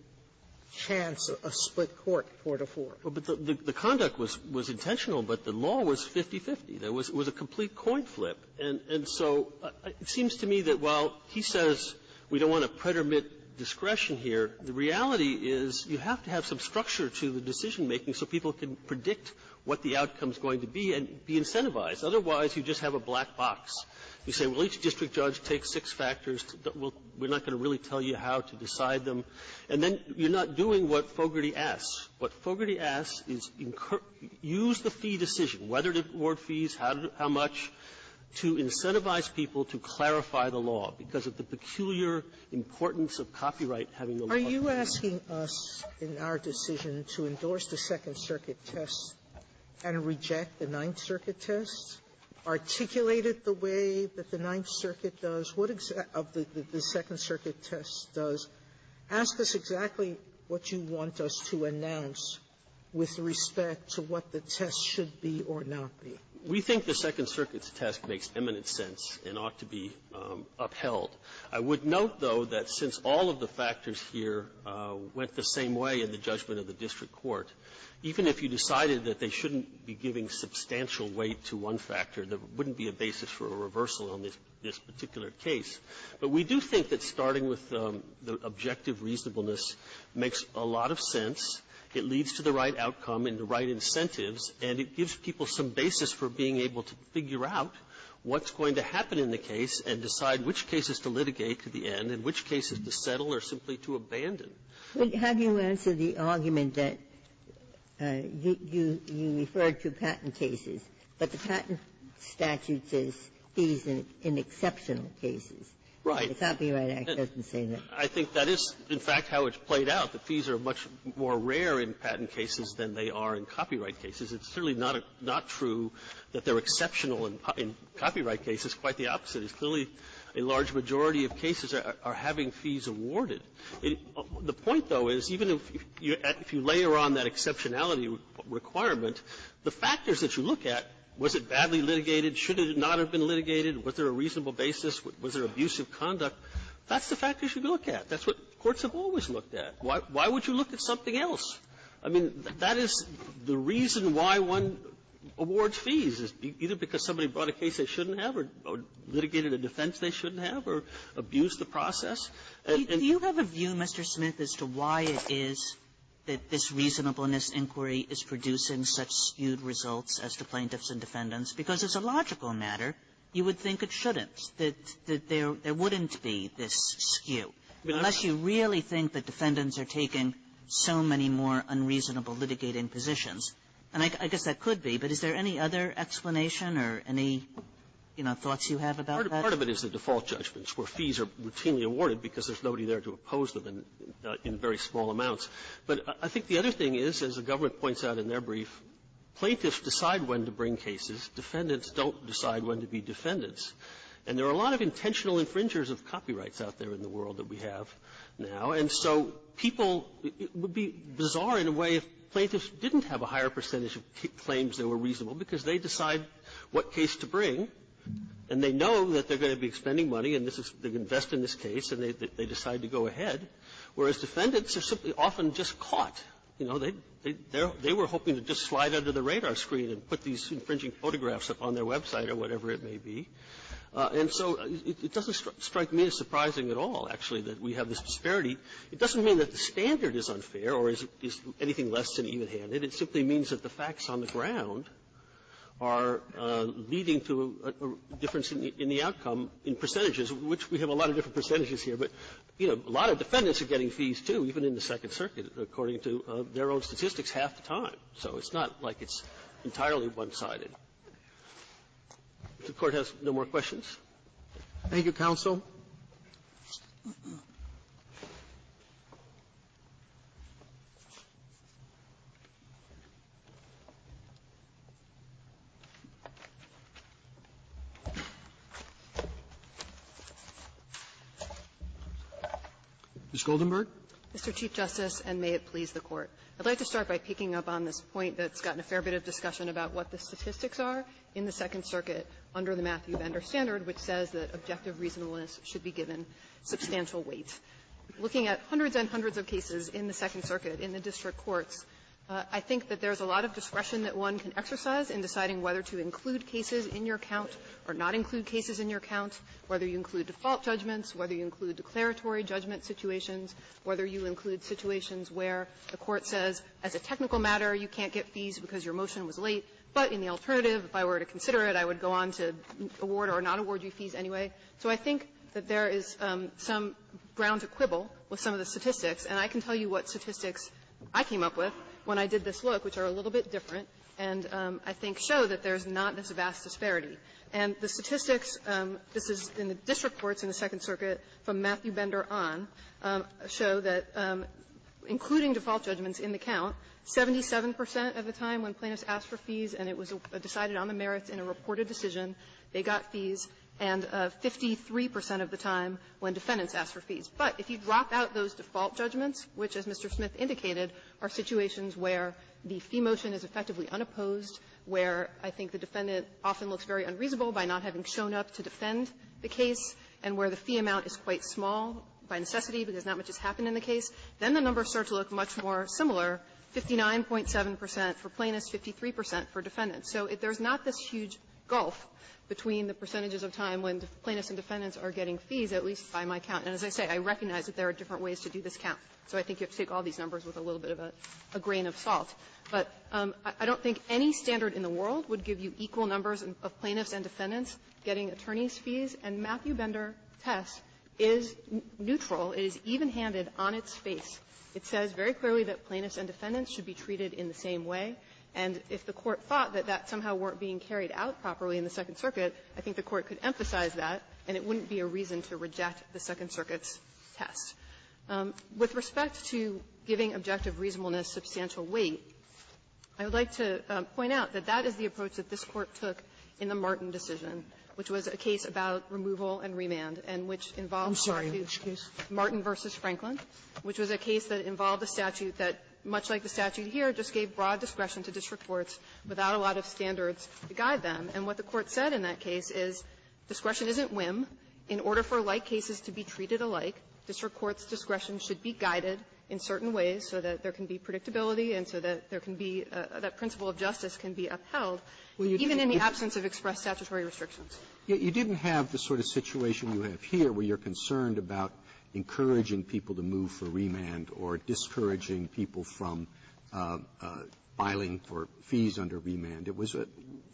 chance of a split court, four to four? Well, but the conduct was intentional, but the law was 50-50. There was a complete coin flip. And so it seems to me that while he says we don't want to pretermit discretion here, the reality is you have to have some structure to the decision-making so people can predict what the outcome's going to be and be incentivized. Otherwise, you just have a black box. You say, well, each district judge takes six factors. We're not going to really tell you how to decide them. And then you're not doing what Fogarty asks. What Fogarty asks is use the fee decision, whether to award fees, how much, to incentivize people to clarify the law because of the peculiar importance of copyright having the law. Sotomayor, are you asking us in our decision to endorse the Second Circuit test and reject the Ninth Circuit test? Articulate it the way that the Ninth Circuit does? What exactly the Second Circuit test does? Ask us exactly what you want us to announce with respect to what the test should be or not be. We think the Second Circuit's test makes eminent sense and ought to be upheld. I would note, though, that since all of the factors here went the same way in the judgment of the district court, even if you decided that they shouldn't be giving substantial weight to one factor, there wouldn't be a basis for a reversal on this particular case. But we do think that starting with the objective reasonableness makes a lot of sense. It leads to the right outcome and the right incentives, and it gives people some basis for being able to figure out what's going to happen in the case and decide which cases to litigate to the end and which cases to settle or simply to abandon. Ginsburg. But have you answered the argument that you referred to patent cases, but the patent statute says fees in exceptional cases. Right. The Copyright Act doesn't say that. I think that is, in fact, how it's played out. The fees are much more rare in patent cases than they are in copyright cases. It's clearly not true that they're exceptional in copyright cases. Quite the opposite. It's clearly a large majority of cases are having fees awarded. The point, though, is even if you layer on that exceptionality requirement, the factors that you look at, was it badly litigated, should it not have been litigated, was there a reasonable basis, was there abusive conduct, that's the factors you look at. That's what courts have always looked at. Why would you look at something else? I mean, that is the reason why one awards fees, is either because somebody brought a case they shouldn't have or litigated a defense they shouldn't have or abused the process. And you have a view, Mr. Smith, as to why it is that this reasonableness inquiry is producing such skewed results as to plaintiffs and defendants, because as a logical matter, you would think it shouldn't, that there wouldn't be this skew. Unless you really think that defendants are taking so many more unreasonable litigating positions. And I guess that could be. But is there any other explanation or any, you know, thoughts you have about that? Part of it is the default judgments, where fees are routinely awarded because there's nobody there to oppose them in very small amounts. But I think the other thing is, as the government points out in their brief, plaintiffs decide when to bring cases. Defendants don't decide when to be defendants. And there are a lot of intentional infringers of copyrights out there in the world that we have now. And so people – it would be bizarre in a way if plaintiffs didn't have a higher percentage of claims that were reasonable, because they decide what case to bring, and they know that they're going to be expending money, and this is – they invest in this case, and they decide to go ahead, whereas defendants are simply often just caught. You know, they were hoping to just slide under the radar screen and put these infringing photographs up on their website or whatever it may be. And so it doesn't strike me as surprising at all, actually, that we have this disparity. It doesn't mean that the standard is unfair or is anything less than even-handed. It simply means that the facts on the ground are leading to a difference in the outcome in percentages, which we have a lot of different percentages here. But, you know, a lot of defendants are getting fees, too, even in the Second Circuit, according to their own statistics, half the time. So it's not like it's entirely one-sided. If the Court has no more questions. Roberts. Thank you, counsel. Ms. Goldenberg. Goldenberg. Mr. Chief Justice, and may it please the Court. I'd like to start by picking up on this point that's gotten a fair bit of discussion about what the statistics are in the Second Circuit under the Matthew Bender Standard, which says that objective reasonableness should be given substantial weight. Looking at hundreds and hundreds of cases in the Second Circuit in the district courts, I think that there's a lot of discretion that one can exercise in deciding whether to include cases in your count or not include cases in your count, whether you include default judgments, whether you include declaratory judgment situations, whether you include situations where the Court says, as a technical matter, you can't get fees because your motion was late, but in the alternative, if I were to consider it, I would go on to award or not award you fees anyway. So I think that there is some ground to quibble with some of the statistics. And I can tell you what statistics I came up with when I did this look, which are a little bit different, and I think show that there's not this vast disparity. And the statistics, this is in the district courts in the Second Circuit from Matthew Bender on, show that, including default judgments in the count, 77 percent of the time when plaintiffs asked for fees, and it was decided on the merits in a reported decision, they got fees, and 53 percent of the time when defendants asked for fees. But if you drop out those default judgments, which, as Mr. Smith indicated, are situations where the fee motion is effectively unopposed, where I think the defendant often looks very unreasonable by not having shown up to defend the case, and where the fee amount is quite small by necessity because not much has happened in the case, then the numbers start to look much more similar, 59.7 percent for plaintiffs, 53 percent for defendants. So if there's not this huge gulf between the percentages of time when the plaintiffs and defendants are getting fees, at least by my count, and as I say, I recognize that there are different ways to do this count. So I think you have to take all these numbers with a little bit of a grain of salt. But I don't think any standard in the world would give you equal numbers of plaintiffs and defendants getting attorney's fees. And Matthew Bender test is neutral. It is evenhanded on its face. It says very clearly that plaintiffs and defendants should be treated in the same way, and if the Court thought that that somehow weren't being carried out properly in the Second Circuit, I think the Court could emphasize that, and it wouldn't be a reason to reject the Second Circuit's test. With respect to giving objective reasonableness substantial weight, I would like to point out that that is the approach that this Court took in the Martin decision, which was a case about removal and remand, and which involved Martin v. Franklin, which was a case that involved a statute that, much like the statute here, just gave broad discretion to district courts without a lot of standards to guide them. And what the Court said in that case is discretion isn't whim. In order for like cases to be treated alike, district courts' discretion should be guided in certain ways so that there can be predictability and so that there can be that principle of justice can be upheld, even in the absence of expressed statutory restrictions. Robertson, you didn't have the sort of situation you have here where you're concerned about encouraging people to move for remand or discouraging people from filing for fees under remand. It was a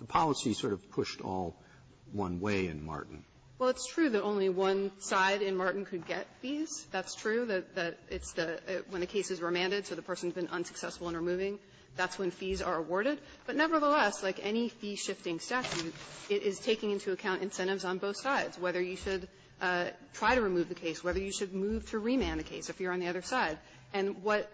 policy sort of pushed all one way in Martin. Well, it's true that only one side in Martin could get fees. That's true, that it's the when the case is remanded, so the person's been unsuccessful in removing. That's when fees are awarded. But nevertheless, like any fee-shifting statute, it is taking into account incentives on both sides, whether you should try to remove the case, whether you should move to remand the case if you're on the other side. And what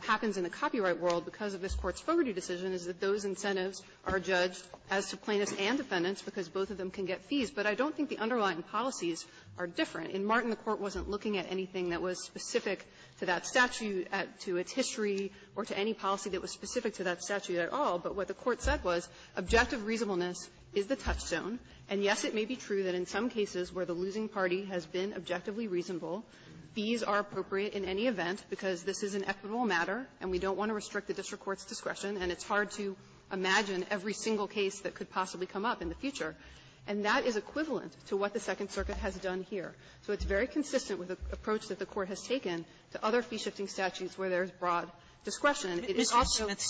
happens in the copyright world because of this Court's Fogarty decision is that those incentives are judged as to plaintiffs and defendants because both of them can get fees. But I don't think the underlying policies are different. In Martin, the Court wasn't looking at anything that was specific to that statute, to its history, or to any policy that was specific to that statute at all. But what the Court said was objective reasonableness is the touchstone. And, yes, it may be true that in some cases where the losing party has been objectively reasonable, fees are appropriate in any event because this is an equitable matter, and we don't want to restrict the district court's discretion, and it's hard to imagine every single case that could possibly come up in the future. And that is equivalent to what the Second Circuit has done here. So it's very consistent with the approach that the Court has taken to other fee-shifting statutes where there is broad discretion. And it is also – Kagan. Kagan. Sotomayor, Mr. Smith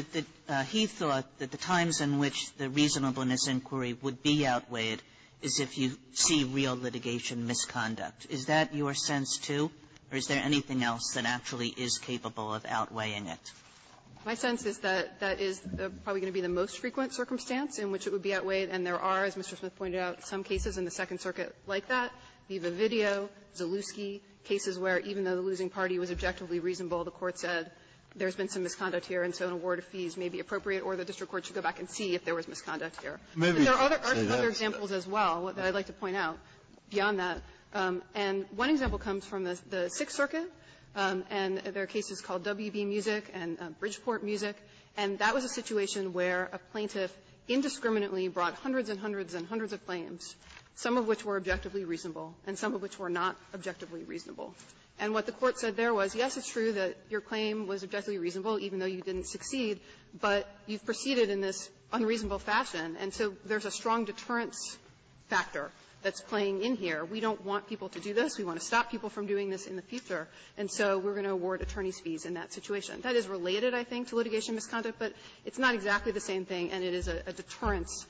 suggested that he thought that the times in which the reasonableness inquiry would be outweighed is if you see real litigation misconduct. Is that your sense, too, or is there anything else that actually is capable of outweighing it? My sense is that that is probably going to be the most frequent circumstance in which it would be outweighed. And there are, as Mr. Smith pointed out, some cases in the Second Circuit like that, Viva Video, Zalewski, cases where even though the losing party was objectively reasonable, the Court said there's been some misconduct here, and so an award of fees may be appropriate, or the district court should go back and see if there was misconduct here. But there are other examples as well that I'd like to point out beyond that. And one example comes from the Sixth Circuit, and there are cases called WB Music and Bridgeport Music, and that was a situation where a plaintiff indiscriminately brought hundreds and hundreds and hundreds of claims, some of which were objectively reasonable and some of which were not objectively reasonable. And what the Court said there was, yes, it's true that your claim was objectively reasonable, even though you didn't succeed, but you've proceeded in this unreasonable fashion, and so there's a strong deterrence factor that's playing in here. We don't want people to do this. We want to stop people from doing this in the future, and so we're going to award attorneys' fees in that situation. That is related, I think, to litigation misconduct, but it's not exactly the same thing, and it is a deterrence.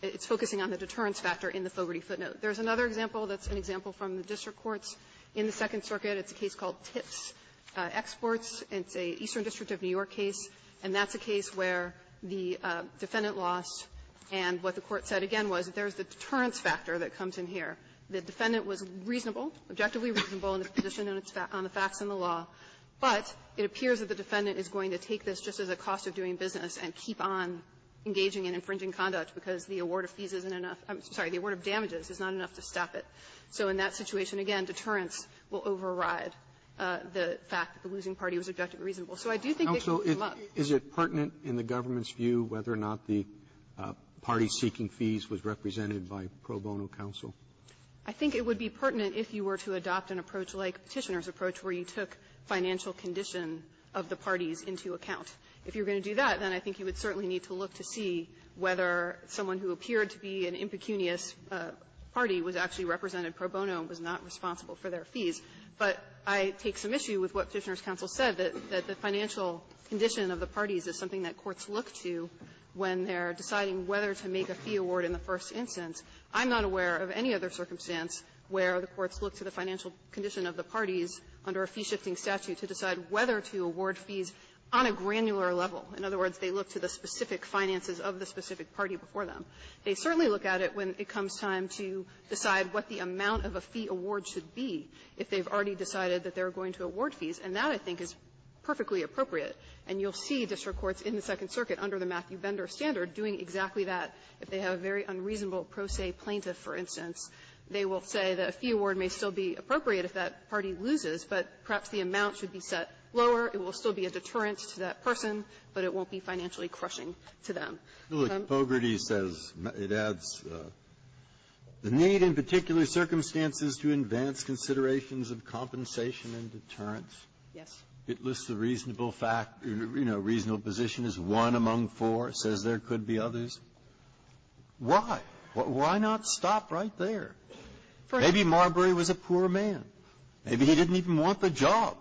It's focusing on the deterrence factor in the Fogarty footnote. There's another example that's an example from the district courts in the Second Circuit. It's a case called Tips Exports. It's an Eastern District of New York case, and that's a case where the defendant lost, and what the Court said again was that there's the deterrence factor that comes in here. The defendant was reasonable, objectively reasonable in the position on the facts in the law, but it appears that the defendant is going to take this just as a cost of doing business and keep on engaging in infringing conduct because the award of fees isn't enough. I'm sorry. The award of damages is not enough to stop it. So in that situation, again, deterrence will override the fact that the losing party was objectively reasonable. So I do think they can come up. Roberts, is it pertinent in the government's view whether or not the party-seeking fees was represented by pro bono counsel? I think it would be pertinent if you were to adopt an approach like Petitioner's approach where you took financial condition of the parties into account. If you're going to do that, then I think you would certainly need to look to see whether someone who appeared to be an impecunious party was actually represented pro bono and was not responsible for their fees. But I take some issue with what Petitioner's counsel said, that the financial condition of the parties is something that courts look to when they're deciding whether to make a fee award in the first instance. I'm not aware of any other circumstance where the courts look to the financial condition of the parties under a fee-shifting statute to decide whether to award fees on a granular level. In other words, they look to the specific finances of the specific party before them. They certainly look at it when it comes time to decide what the amount of a fee award should be if they've already decided that they're going to award fees. And that, I think, is perfectly appropriate. And you'll see district courts in the Second Circuit under the Matthew Bender standard doing exactly that. If they have a very unreasonable pro se plaintiff, for instance, they will say that a fee award may still be appropriate if that party loses, but perhaps the amount should be set lower. It will still be a deterrent to that person, but it won't be financially crushing to them. Breyer. Breyer. Bogerty says, it adds, the need in particular circumstances to advance considerations of compensation and deterrence. Yes. It lists the reasonable fact, you know, reasonable position as one among four. It says there could be others. Why? Why not stop right there? Maybe Marbury was a poor man. Maybe he didn't even want the job.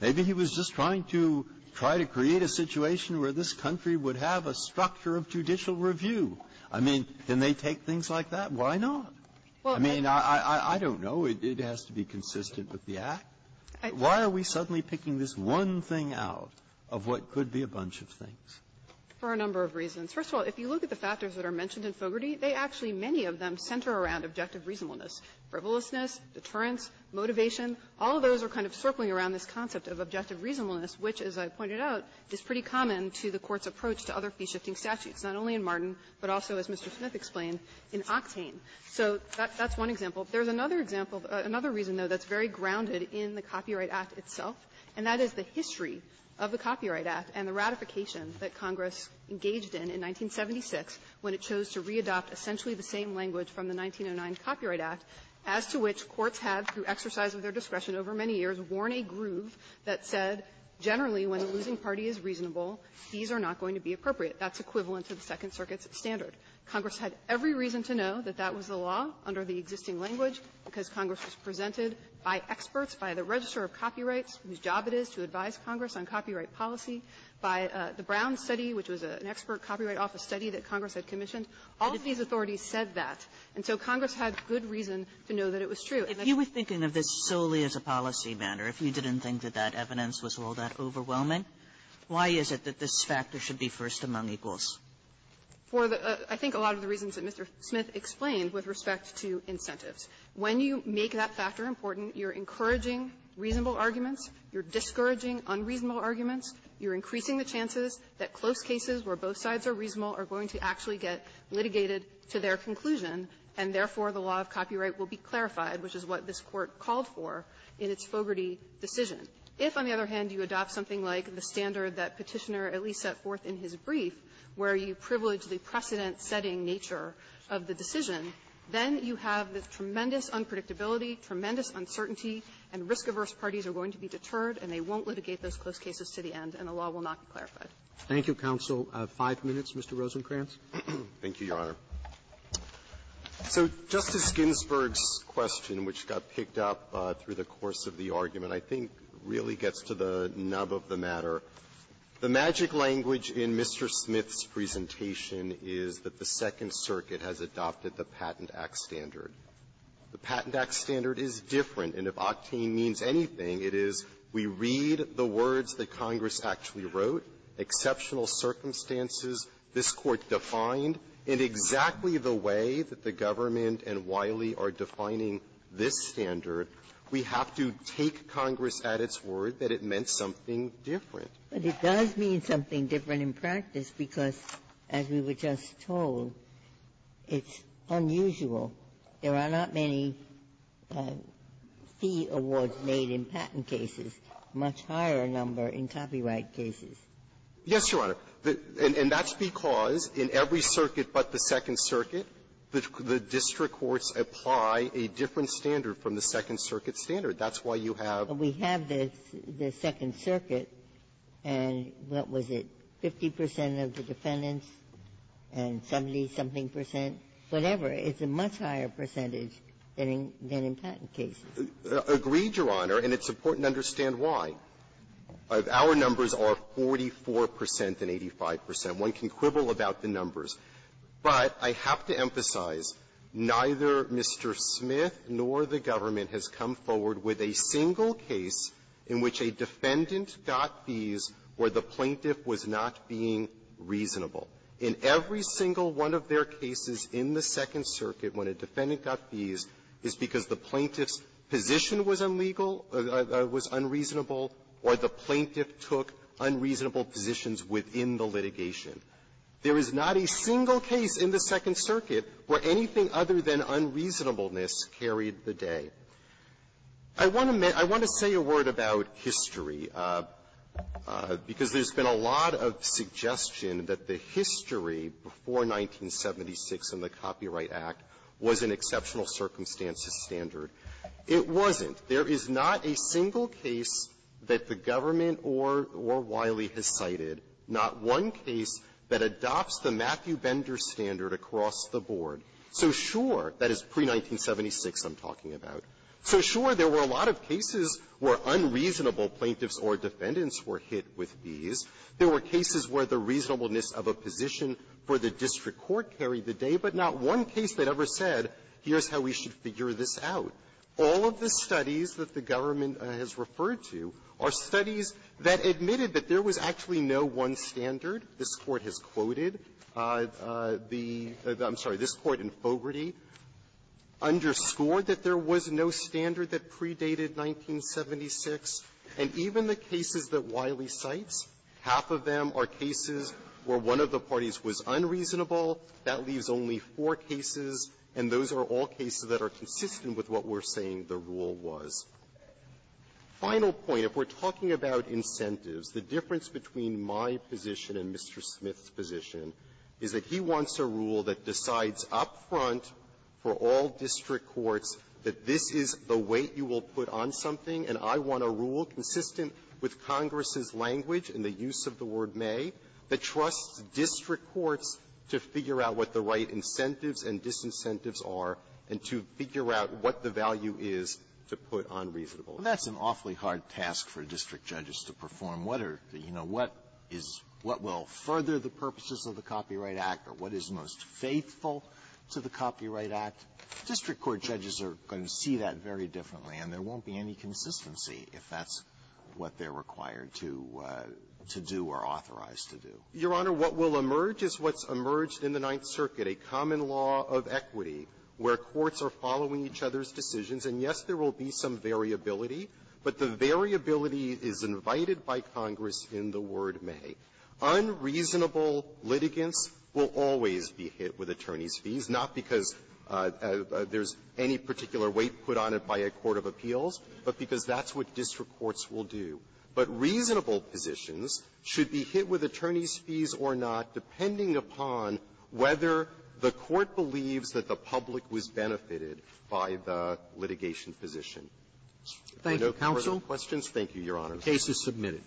Maybe he was just trying to try to create a situation where this country would have a structure of judicial review. I mean, can they take things like that? Why not? I mean, I don't know. It has to be consistent with the Act. Why are we suddenly picking this one thing out of what could be a bunch of things? For a number of reasons. First of all, if you look at the factors that are mentioned in Bogerty, they actually many of them center around objective reasonableness, frivolousness, deterrence, motivation. All of those are kind of circling around this concept of objective reasonableness, which, as I pointed out, is pretty common to the Court's approach to other fee-shifting statutes, not only in Martin, but also, as Mr. Smith explained, in Octane. So that's one example. There's another example, another reason, though, that's very grounded in the Copyright Act itself, and that is the history of the Copyright Act and the ratification that Congress engaged in in 1976 when it chose to readopt essentially the same language from the 1909 Copyright Act, as to which courts have, through exercise of their discretion over many years, worn a groove that said, generally, when a losing party is reasonable, fees are not going to be appropriate. That's equivalent to the Second Circuit's standard. Congress had every reason to know that that was the law under the existing language because Congress was presented by experts, by the Register of Copyrights, whose Brown study, which was an expert copyright office study that Congress had commissioned, all of these authorities said that. And so Congress had good reason to know that it was true. And so Congress had good reason to know that it was true. Kagan in this solely as a policy manner, if you didn't think that evidence was all that overwhelming, why is it that this factor should be first among equals? For the – I think a lot of the reasons that Mr. Smith explained with respect to incentives. When you make that factor important, you're encouraging reasonable arguments, you're discouraging unreasonable arguments, you're increasing the chances that the law will not be clarified, and you're encouraging that close cases where both sides are reasonable are going to actually get litigated to their conclusion, and therefore, the law of copyright will be clarified, which is what this Court called for in its Fogarty decision. If, on the other hand, you adopt something like the standard that Petitioner at least set forth in his brief, where you privilege the precedent-setting nature of the decision, then you have this tremendous unpredictability, tremendous uncertainty, and risk-averse parties are going to be deterred, and they Thank you, counsel. Five minutes, Mr. Rosenkranz. Rosenkranz. Thank you, Your Honor. So Justice Ginsburg's question, which got picked up through the course of the argument, I think really gets to the nub of the matter. The magic language in Mr. Smith's presentation is that the Second Circuit has adopted the Patent Act standard. The Patent Act standard is different, and if octane means anything, it is we read the words that Congress actually wrote, exceptional circumstances this Court defined, and exactly the way that the government and Wiley are defining this standard, we have to take Congress at its word that it meant something different. Ginsburg. But it does mean something different in practice because, as we were just talking about, there's a much higher number in copyright cases. Rosenkranz. Yes, Your Honor. And that's because in every circuit but the Second Circuit, the district courts apply a different standard from the Second Circuit standard. That's why you have the Second Circuit, and what was it, 50 percent of the defendants and 70-something percent, whatever. It's a much higher percentage than in patent cases. Rosenkranz. Agreed, Your Honor. And it's important to understand why. Our numbers are 44 percent and 85 percent. One can quibble about the numbers. But I have to emphasize, neither Mr. Smith nor the government has come forward with a single case in which a defendant got fees where the plaintiff was not being reasonable. In every single one of their cases in the Second Circuit, when a defendant got fees, it's because the plaintiff's position was unlegal, was unreasonable, or the plaintiff took unreasonable positions within the litigation. There is not a single case in the Second Circuit where anything other than unreasonableness carried the day. I want to say a word about history because there's been a lot of suggestion that the history before 1976 in the Copyright Act was an exceptional circumstance. It wasn't. There is not a single case that the government or Wiley has cited, not one case that adopts the Matthew Bender standard across the board. So, sure, that is pre-1976 I'm talking about. So, sure, there were a lot of cases where unreasonable plaintiffs or defendants were hit with fees. There were cases where the reasonableness of a position for the district court carried the day, but not one case that ever said, here's how we should figure this out. All of the studies that the government has referred to are studies that admitted that there was actually no one standard. This Court has quoted the – I'm sorry. This Court in Fogarty underscored that there was no standard that predated 1976. And even the cases that Wiley cites, half of them are cases where one of the parties was unreasonable. That leaves only four cases, and those are all cases that are consistent with what we're saying the rule was. Final point. If we're talking about incentives, the difference between my position and Mr. Smith's position is that he wants a rule that decides up front for all district courts that this is the weight you will put on something, and I want a rule consistent with Congress's language and the use of the word may that trusts district courts to figure out what the right incentives and disincentives are and to figure out what the value is to put on reasonableness. Alitoson That's an awfully hard task for district judges to perform. What are the – you know, what is – what will further the purposes of the Copyright Act, or what is most faithful to the Copyright Act? District court judges are going to see that very differently, and there won't be any consistency if that's what they're required to do or authorized to do. Gannon Your Honor, what will emerge is what's emerged in the Ninth Circuit, a common law of equity where courts are following each other's decisions, and, yes, there will be some variability, but the variability is invited by Congress in the word may. Unreasonable litigants will always be hit with attorneys' fees, not because there's any particular weight put on it by a court of appeals, but because that's what district courts will do. But reasonable positions should be hit with attorneys' fees or not, depending upon whether the court believes that the public was benefited by the litigation position. Roberts Thank you, counsel. Gannon No further questions. Thank you, Your Honor. Roberts Case is submitted.